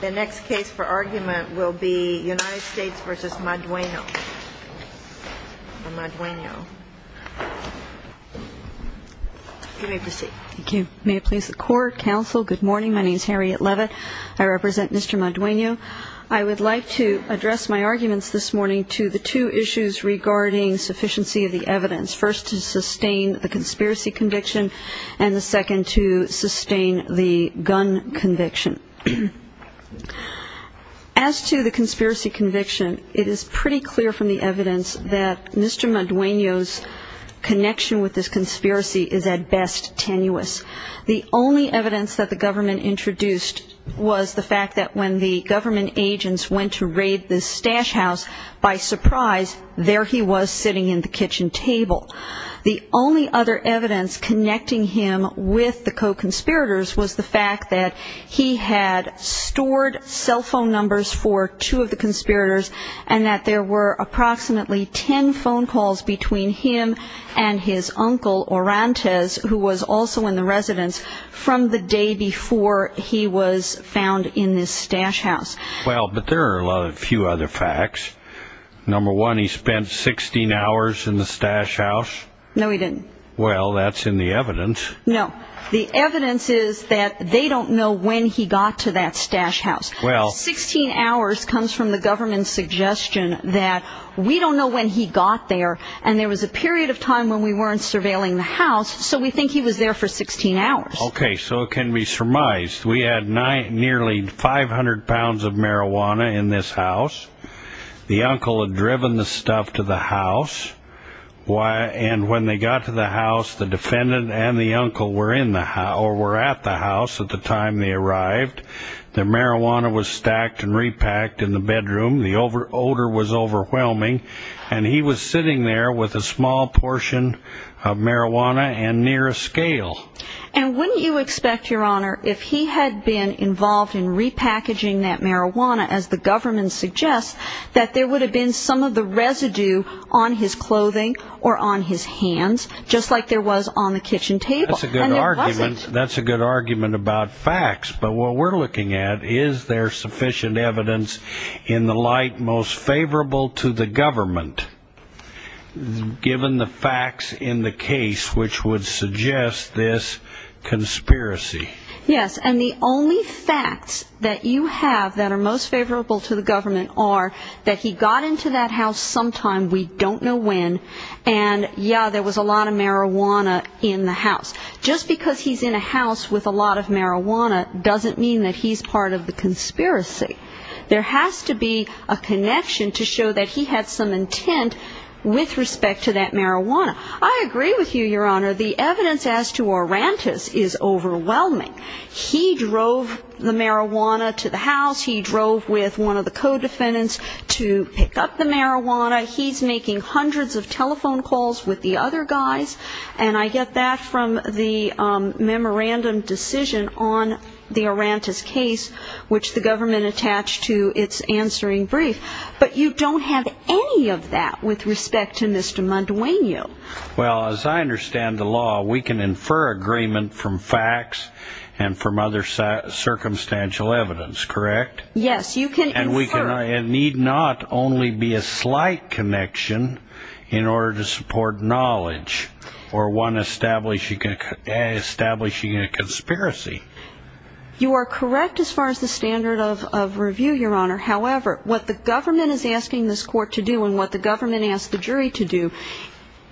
The next case for argument will be United States v. Madueno. You may proceed. Thank you. May it please the court, counsel, good morning. My name is Harriet Leavitt. I represent Mr. Madueno. I would like to address my arguments this morning to the two issues regarding sufficiency of the evidence, first to sustain the conspiracy conviction and the second to sustain the gun conviction. As to the conspiracy conviction, it is pretty clear from the evidence that Mr. Madueno's connection with this conspiracy is at best tenuous. The only evidence that the government introduced was the fact that when the government agents went to raid this stash house, by surprise, there he was sitting in the kitchen table. The only other evidence connecting him with the co-conspirators was the fact that he had stored cell phone numbers for two of the conspirators and that there were approximately ten phone calls between him and his uncle, Orantes, who was also in the residence, from the day before he was found in this stash house. Well, but there are a few other facts. Number one, he spent 16 hours in the stash house. No, he didn't. Well, that's in the evidence. No. The evidence is that they don't know when he got to that stash house. 16 hours comes from the government's suggestion that we don't know when he got there and there was a period of time when we weren't surveilling the house, so we think he was there for 16 hours. Okay, so it can be surmised. We had nearly 500 pounds of marijuana in this house. The uncle had driven the stuff to the house and when they got to the house, the defendant and the uncle were at the house at the time they arrived. The marijuana was stacked and repacked in the bedroom. The odor was overwhelming and he was sitting there with a small portion of marijuana and near a scale. And wouldn't you expect, Your Honor, if he had been involved in repackaging that marijuana, as the government suggests, that there would have been some of the residue on his clothing or on his hands, just like there was on the kitchen table? That's a good argument. And there wasn't. That's a good argument about facts. But what we're looking at is there sufficient evidence in the light most favorable to the government, given the facts in the case which would suggest this conspiracy. Yes, and the only facts that you have that are most favorable to the government are that he got into that house sometime, we don't know when, and yeah, there was a lot of marijuana in the house. Just because he's in a house with a lot of marijuana doesn't mean that he's part of the conspiracy. There has to be a connection to show that he had some intent with respect to that marijuana. I agree with you, Your Honor. The evidence as to Orantis is overwhelming. He drove the marijuana to the house. He drove with one of the co-defendants to pick up the marijuana. He's making hundreds of telephone calls with the other guys. And I get that from the memorandum decision on the Orantis case, which the government attached to its answering brief. But you don't have any of that with respect to Mr. Mondueño. Well, as I understand the law, we can infer agreement from facts and from other circumstantial evidence, correct? Yes, you can infer. It need not only be a slight connection in order to support knowledge or one establishing a conspiracy. You are correct as far as the standard of review, Your Honor. However, what the government is asking this court to do and what the government asked the jury to do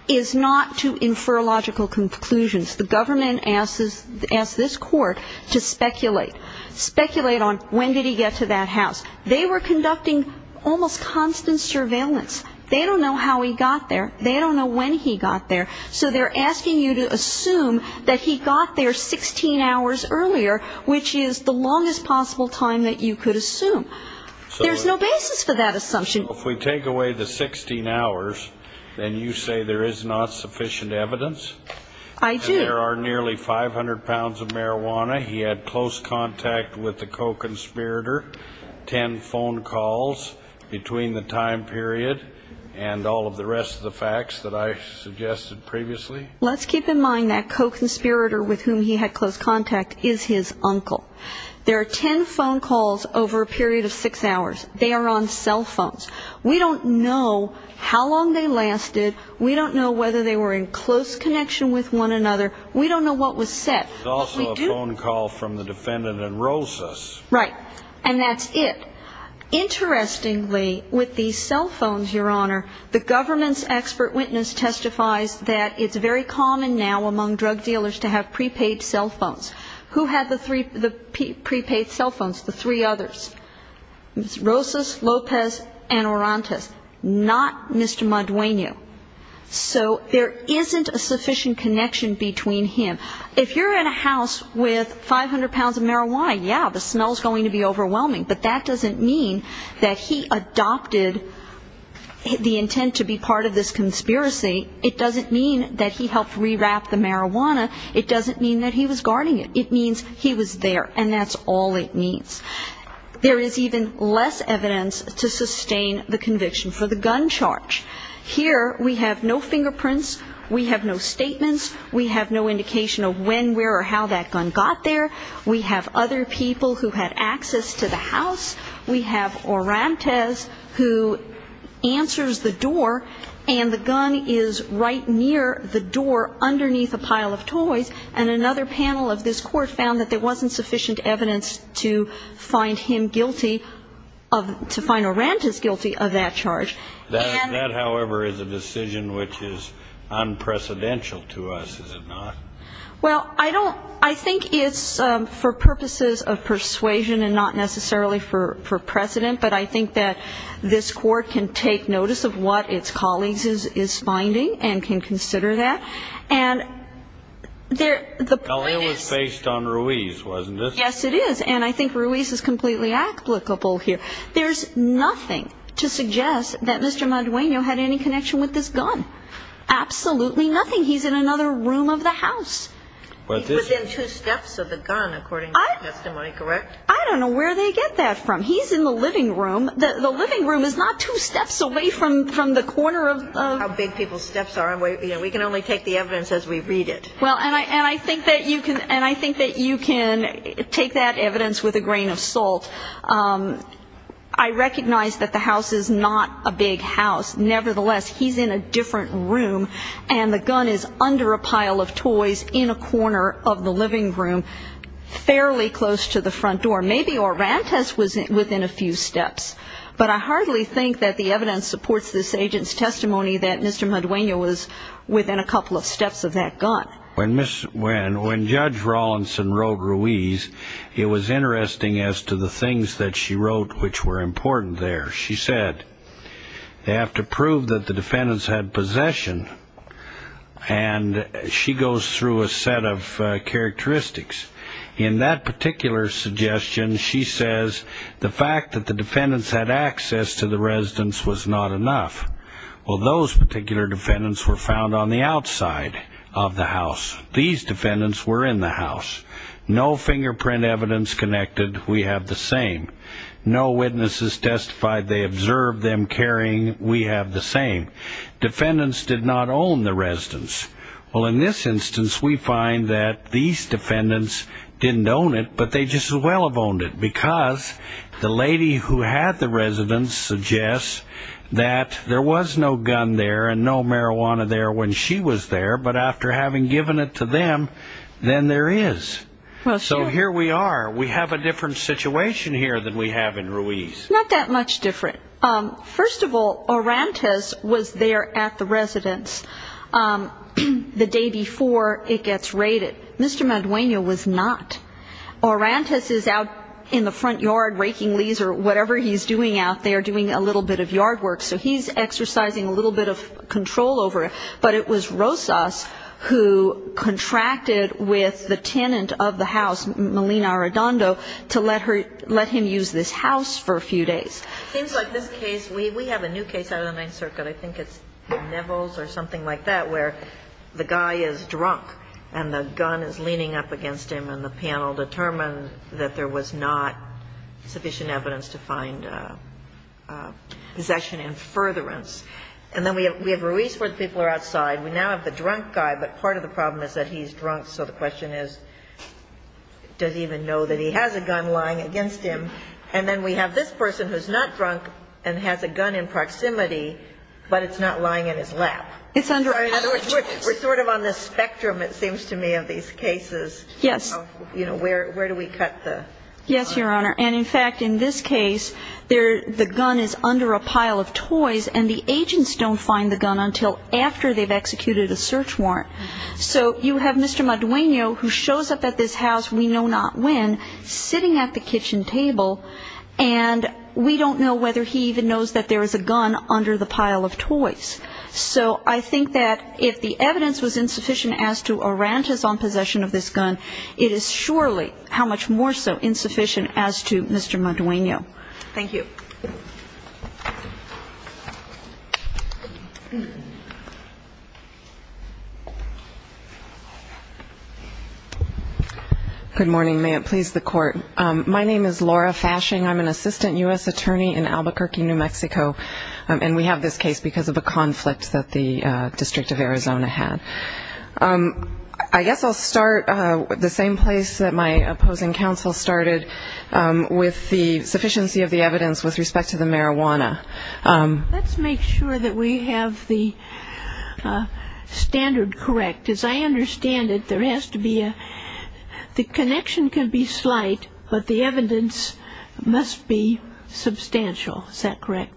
is not to infer logical conclusions. The government asks this court to speculate. Speculate on when did he get to that house. They were conducting almost constant surveillance. They don't know how he got there. They don't know when he got there. So they're asking you to assume that he got there 16 hours earlier, which is the longest possible time that you could assume. There's no basis for that assumption. If we take away the 16 hours, then you say there is not sufficient evidence? I do. And there are nearly 500 pounds of marijuana. He had close contact with the co-conspirator. Ten phone calls between the time period and all of the rest of the facts that I suggested previously. Let's keep in mind that co-conspirator with whom he had close contact is his uncle. There are ten phone calls over a period of six hours. They are on cell phones. We don't know how long they lasted. We don't know whether they were in close connection with one another. We don't know what was said. There's also a phone call from the defendant and Rosas. Right. And that's it. Interestingly, with these cell phones, Your Honor, the government's expert witness testifies that it's very common now among drug dealers to have prepaid cell phones. Who had the prepaid cell phones? The three others. Rosas, Lopez, and Orantes. Not Mr. Madueño. So there isn't a sufficient connection between him. If you're in a house with 500 pounds of marijuana, yeah, the smell's going to be overwhelming, but that doesn't mean that he adopted the intent to be part of this conspiracy. It doesn't mean that he helped rewrap the marijuana. It doesn't mean that he was guarding it. It means he was there, and that's all it means. There is even less evidence to sustain the conviction for the gun charge. Here we have no fingerprints. We have no statements. We have no indication of when, where, or how that gun got there. We have other people who had access to the house. We have Orantes who answers the door, and the gun is right near the door underneath a pile of toys, and another panel of this court found that there wasn't sufficient evidence to find him guilty of to find Orantes guilty of that charge. That, however, is a decision which is unprecedented to us, is it not? Well, I don't – I think it's for purposes of persuasion and not necessarily for precedent, but I think that this court can take notice of what its colleagues is finding and can consider that. And there – the point is – Well, it was based on Ruiz, wasn't it? Yes, it is, and I think Ruiz is completely applicable here. There's nothing to suggest that Mr. Madueño had any connection with this gun. Absolutely nothing. He's in another room of the house. He's within two steps of the gun, according to the testimony, correct? I don't know where they get that from. He's in the living room. The living room is not two steps away from the corner of – How big people's steps are. We can only take the evidence as we read it. And I think that you can take that evidence with a grain of salt. I recognize that the house is not a big house. Nevertheless, he's in a different room, and the gun is under a pile of toys in a corner of the living room, fairly close to the front door. Maybe Orantes was within a few steps, Mr. Madueño was within a couple of steps of that gun. When Judge Rawlinson wrote Ruiz, it was interesting as to the things that she wrote which were important there. She said they have to prove that the defendants had possession, and she goes through a set of characteristics. In that particular suggestion, she says the fact that the defendants had access to the residence was not enough. Well, those particular defendants were found on the outside of the house. These defendants were in the house. No fingerprint evidence connected. We have the same. No witnesses testified they observed them carrying. We have the same. Defendants did not own the residence. Well, in this instance, we find that these defendants didn't own it, but they just as well have owned it because the lady who had the residence suggests that there was no gun there and no marijuana there when she was there, but after having given it to them, then there is. So here we are. We have a different situation here than we have in Ruiz. Not that much different. First of all, Orantes was there at the residence the day before it gets raided. Mr. Madueño was not. Orantes is out in the front yard raking leaves or whatever he's doing out there, doing a little bit of yard work, so he's exercising a little bit of control over it, but it was Rosas who contracted with the tenant of the house, Melina Arredondo, to let him use this house for a few days. It seems like this case, we have a new case out of the Ninth Circuit, I think it's Nevels or something like that, where the guy is drunk and the gun is leaning up against him and the panel determined that there was not sufficient evidence to find possession in furtherance. And then we have Ruiz where the people are outside. We now have the drunk guy, but part of the problem is that he's drunk, so the question is, does he even know that he has a gun lying against him? And then we have this person who's not drunk and has a gun in proximity, but it's not lying in his lap. In other words, we're sort of on the spectrum, it seems to me, of these cases. Yes. You know, where do we cut the line? Yes, Your Honor, and in fact, in this case, the gun is under a pile of toys and the agents don't find the gun until after they've executed a search warrant. So you have Mr. Madueno who shows up at this house, we know not when, sitting at the kitchen table and we don't know whether he even knows that there is a gun under the pile of toys. So I think that if the evidence was insufficient as to a rant is on possession of this gun, it is surely how much more so insufficient as to Mr. Madueno. Thank you. Good morning. May it please the Court. My name is Laura Fashing. I'm an assistant U.S. attorney in Albuquerque, New Mexico, and we have this case because of a conflict that the District of Arizona had. I guess I'll start the same place that my opposing counsel started with the sufficiency of the evidence with respect to the marijuana. Let's make sure that we have the standard correct. As I understand it, there has to be a connection can be slight, but the evidence must be substantial. Is that correct?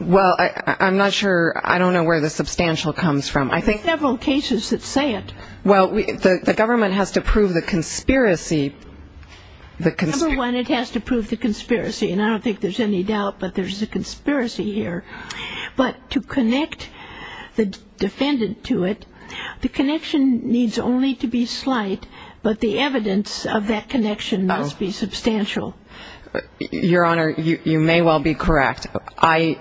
Well, I'm not sure. I don't know where the substantial comes from. There are several cases that say it. Well, the government has to prove the conspiracy. Number one, it has to prove the conspiracy, and I don't think there's any doubt, but there's a conspiracy here. But to connect the defendant to it, the connection needs only to be slight, but the evidence of that connection must be substantial. Your Honor, you may well be correct. I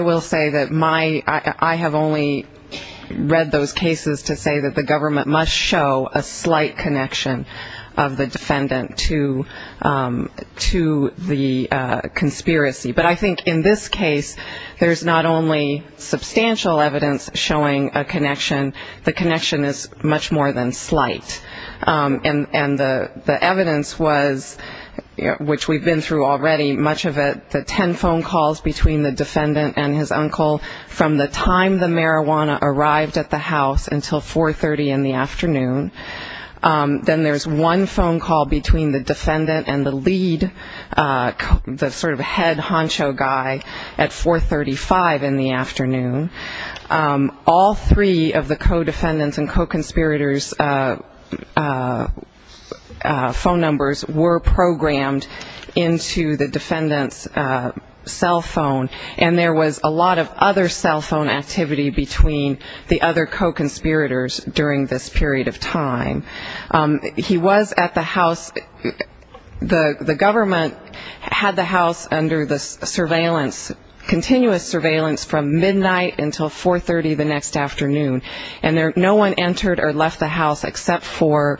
will say that I have only read those cases to say that the government must show a slight connection of the defendant to the conspiracy. But I think in this case, there's not only substantial evidence showing a connection. The connection is much more than slight. And the evidence was, which we've been through already, much of it the ten phone calls between the defendant and his uncle from the time the marijuana arrived at the house until 4.30 in the afternoon. Then there's one phone call between the defendant and the lead, the sort of head honcho guy, at 4.35 in the afternoon. All three of the co-defendants' and co-conspirators' phone numbers were programmed into the defendant's cell phone, and there was a lot of other cell phone activity between the other co-conspirators during this period of time. He was at the house. The government had the house under the surveillance, continuous surveillance from midnight until 4.30 the next afternoon. And no one entered or left the house except for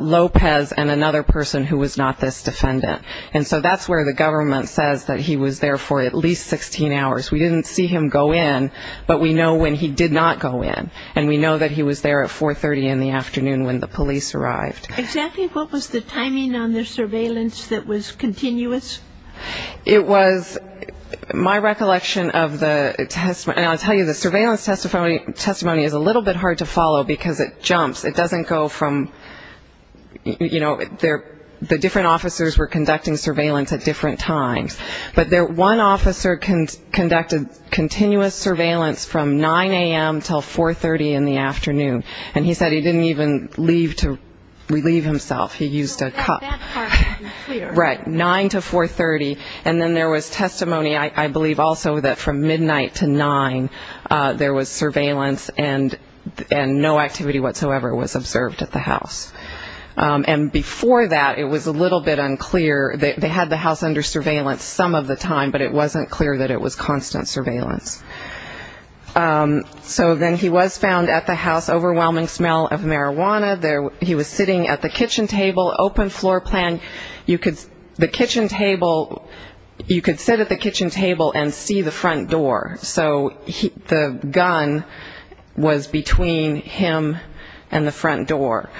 Lopez and another person who was not this defendant. And so that's where the government says that he was there for at least 16 hours. We didn't see him go in, but we know when he did not go in. And we know that he was there at 4.30 in the afternoon when the police arrived. Exactly what was the timing on the surveillance that was continuous? It was my recollection of the testimony. And I'll tell you, the surveillance testimony is a little bit hard to follow because it jumps. It doesn't go from, you know, the different officers were conducting surveillance at different times. But one officer conducted continuous surveillance from 9 a.m. until 4.30 in the afternoon, and he said he didn't even leave to relieve himself. He used a cup. Right, 9 to 4.30. And then there was testimony, I believe, also that from midnight to 9 there was surveillance and no activity whatsoever was observed at the house. And before that, it was a little bit unclear. They had the house under surveillance some of the time, but it wasn't clear that it was constant surveillance. So then he was found at the house, overwhelming smell of marijuana. He was sitting at the kitchen table, open floor plan. You could sit at the kitchen table and see the front door. So the gun was between him and the front door.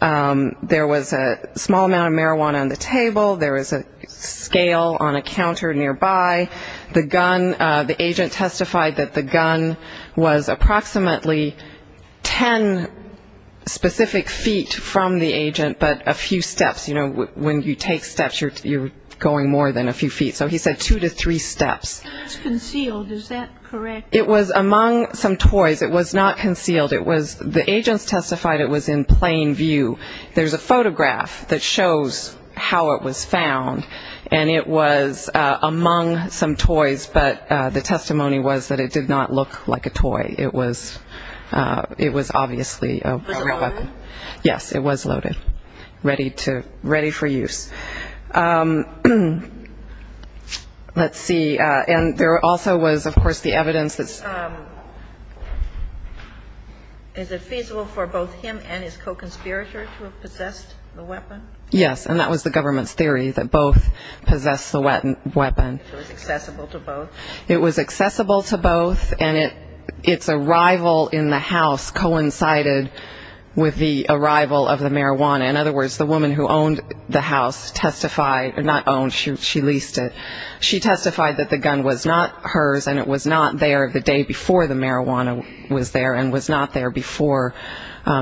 There was a small amount of marijuana on the table. There was a scale on a counter nearby. The agent testified that the gun was approximately 10 specific feet from the agent but a few steps. You know, when you take steps, you're going more than a few feet. So he said two to three steps. It was concealed. Is that correct? It was among some toys. It was not concealed. The agents testified it was in plain view. There's a photograph that shows how it was found, and it was among some toys, but the testimony was that it did not look like a toy. It was obviously a real weapon. Was it loaded? Yes, it was loaded, ready for use. Let's see. And there also was, of course, the evidence. Is it feasible for both him and his co-conspirator to have possessed the weapon? Yes, and that was the government's theory, that both possessed the weapon. It was accessible to both? It was accessible to both, and its arrival in the house coincided with the arrival of the marijuana. In other words, the woman who owned the house testified, not owned, she leased it, she testified that the gun was not hers and it was not there the day before the marijuana was there and was not there before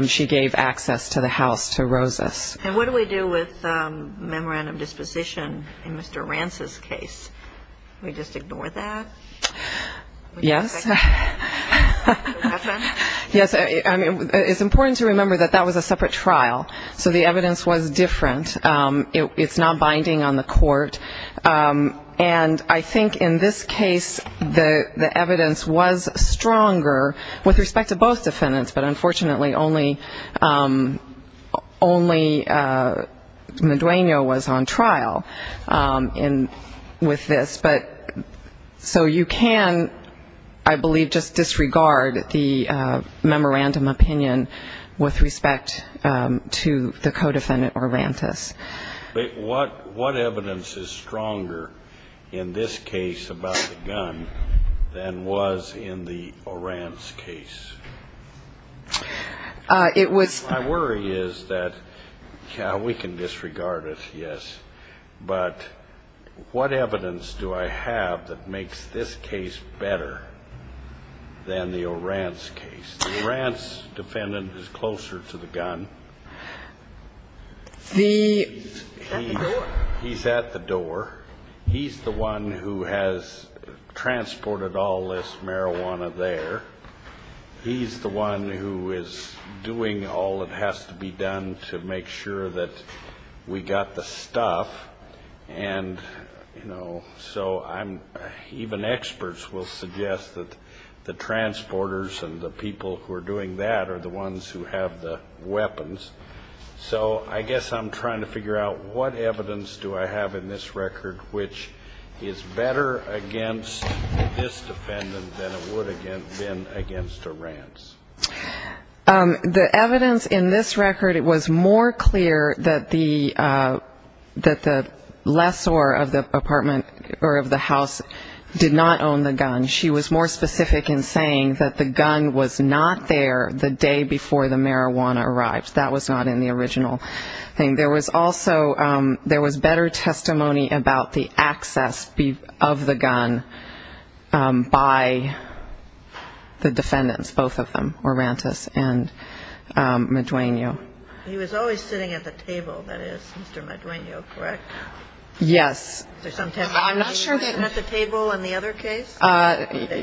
she gave access to the house to Rosas. And what do we do with memorandum disposition in Mr. Rance's case? We just ignore that? Yes. Yes, it's important to remember that that was a separate trial, so the evidence was different. It's not binding on the court, and I think in this case the evidence was stronger with respect to both defendants, but unfortunately only Madueno was on trial with this. So you can, I believe, just disregard the memorandum opinion with respect to the co-defendant Orantes. But what evidence is stronger in this case about the gun than was in the Orantes case? It was My worry is that, yeah, we can disregard it, yes, but what evidence do I have that makes this case better than the Orantes case? The Orantes defendant is closer to the gun. He's at the door? He's at the door. He's the one who has transported all this marijuana there. He's the one who is doing all that has to be done to make sure that we got the stuff, and, you know, so even experts will suggest that the transporters and the people who are doing that are the ones who have the weapons. So I guess I'm trying to figure out what evidence do I have in this record which is better against this defendant than it would have been against Orantes. The evidence in this record, it was more clear that the lessor of the apartment or of the house did not own the gun. She was more specific in saying that the gun was not there the day before the marijuana arrived. That was not in the original thing. There was also better testimony about the access of the gun by the defendants, both of them, Orantes and Madueno. He was always sitting at the table, that is, Mr. Madueno, correct? Yes. At the table in the other case?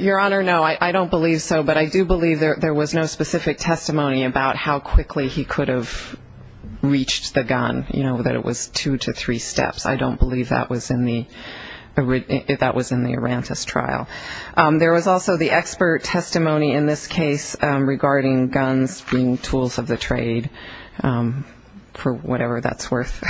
Your Honor, no. I don't believe so, but I do believe there was no specific testimony about how quickly he could have reached the gun, you know, that it was two to three steps. I don't believe that was in the Orantes trial. There was also the expert testimony in this case regarding guns being tools of the trade, for whatever that's worth.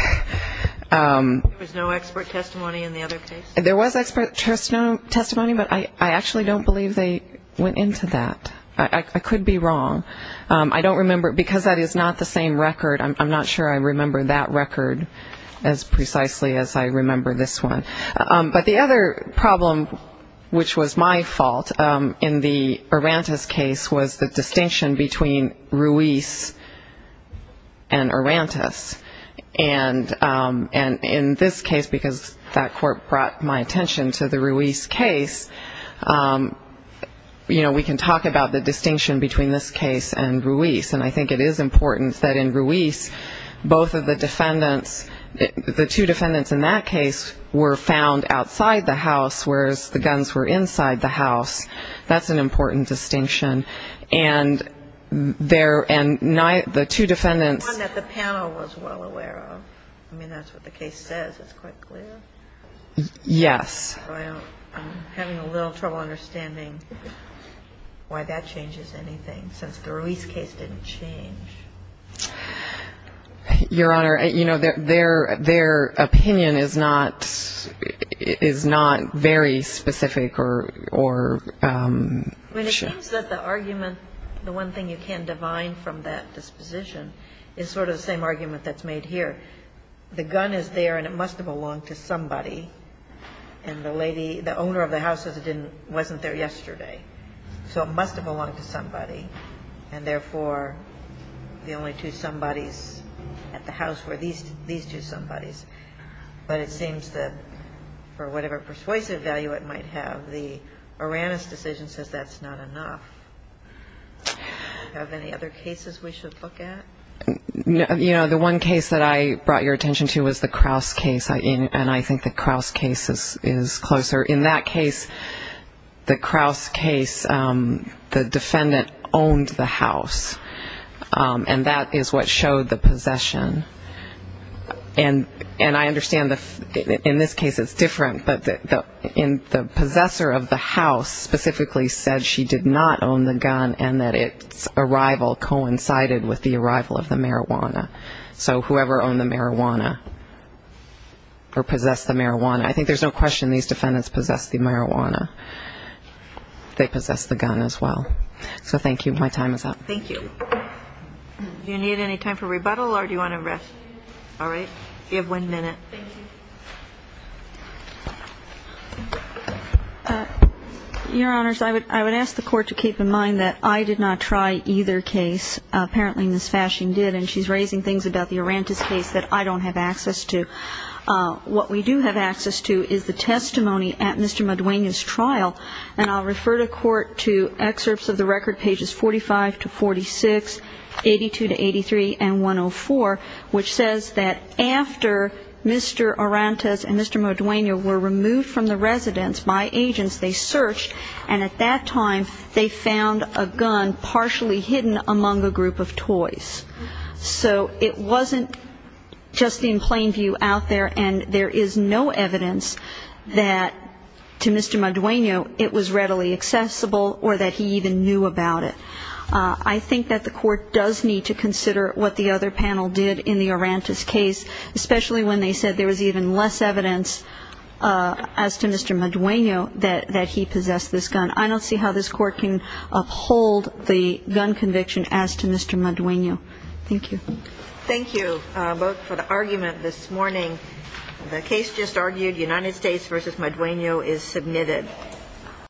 There was no expert testimony in the other case? There was expert testimony, but I actually don't believe they went into that. I could be wrong. I don't remember, because that is not the same record, I'm not sure I remember that record as precisely as I remember this one. But the other problem, which was my fault, in the Orantes case was the distinction between Ruiz and Orantes. And in this case, because that court brought my attention to the Ruiz case, you know, we can talk about the distinction between this case and Ruiz, and I think it is important that in Ruiz, both of the defendants, the two defendants in that case were found outside the house, whereas the guns were inside the house. That's an important distinction. And the two defendants… One that the panel was well aware of. I mean, that's what the case says, it's quite clear. Yes. I'm having a little trouble understanding why that changes anything, since the Ruiz case didn't change. Your Honor, you know, their opinion is not very specific or… I mean, it seems that the argument, the one thing you can divine from that disposition, is sort of the same argument that's made here. The gun is there and it must have belonged to somebody, and the lady, the owner of the house says it wasn't there yesterday. So it must have belonged to somebody, and therefore the only two somebodies at the house were these two somebodies. But it seems that for whatever persuasive value it might have, the Oranis decision says that's not enough. Do you have any other cases we should look at? You know, the one case that I brought your attention to was the Kraus case, and I think the Kraus case is closer. In that case, the Kraus case, the defendant owned the house, and that is what showed the possession. And I understand in this case it's different, but the possessor of the house specifically said she did not own the gun and that its arrival coincided with the arrival of the marijuana. So whoever owned the marijuana or possessed the marijuana, I think there's no question these defendants possessed the marijuana. They possessed the gun as well. So thank you. My time is up. Thank you. Do you need any time for rebuttal or do you want to rest? All right. You have one minute. Thank you. Your Honors, I would ask the Court to keep in mind that I did not try either case. Apparently Ms. Fashing did, and she's raising things about the Orantis case that I don't have access to. What we do have access to is the testimony at Mr. Maduena's trial, and I'll refer the Court to excerpts of the record, pages 45 to 46, 82 to 83, and 104, which says that after Mr. Orantis and Mr. Maduena were removed from the residence by agents, they searched, and at that time they found a gun partially hidden among a group of toys. So it wasn't just in plain view out there, and there is no evidence that to Mr. Maduena it was readily accessible or that he even knew about it. I think that the Court does need to consider what the other panel did in the Orantis case, especially when they said there was even less evidence as to Mr. Maduena that he possessed this gun. And I don't see how this Court can uphold the gun conviction as to Mr. Maduena. Thank you. Thank you both for the argument this morning. The case just argued, United States v. Maduena, is submitted.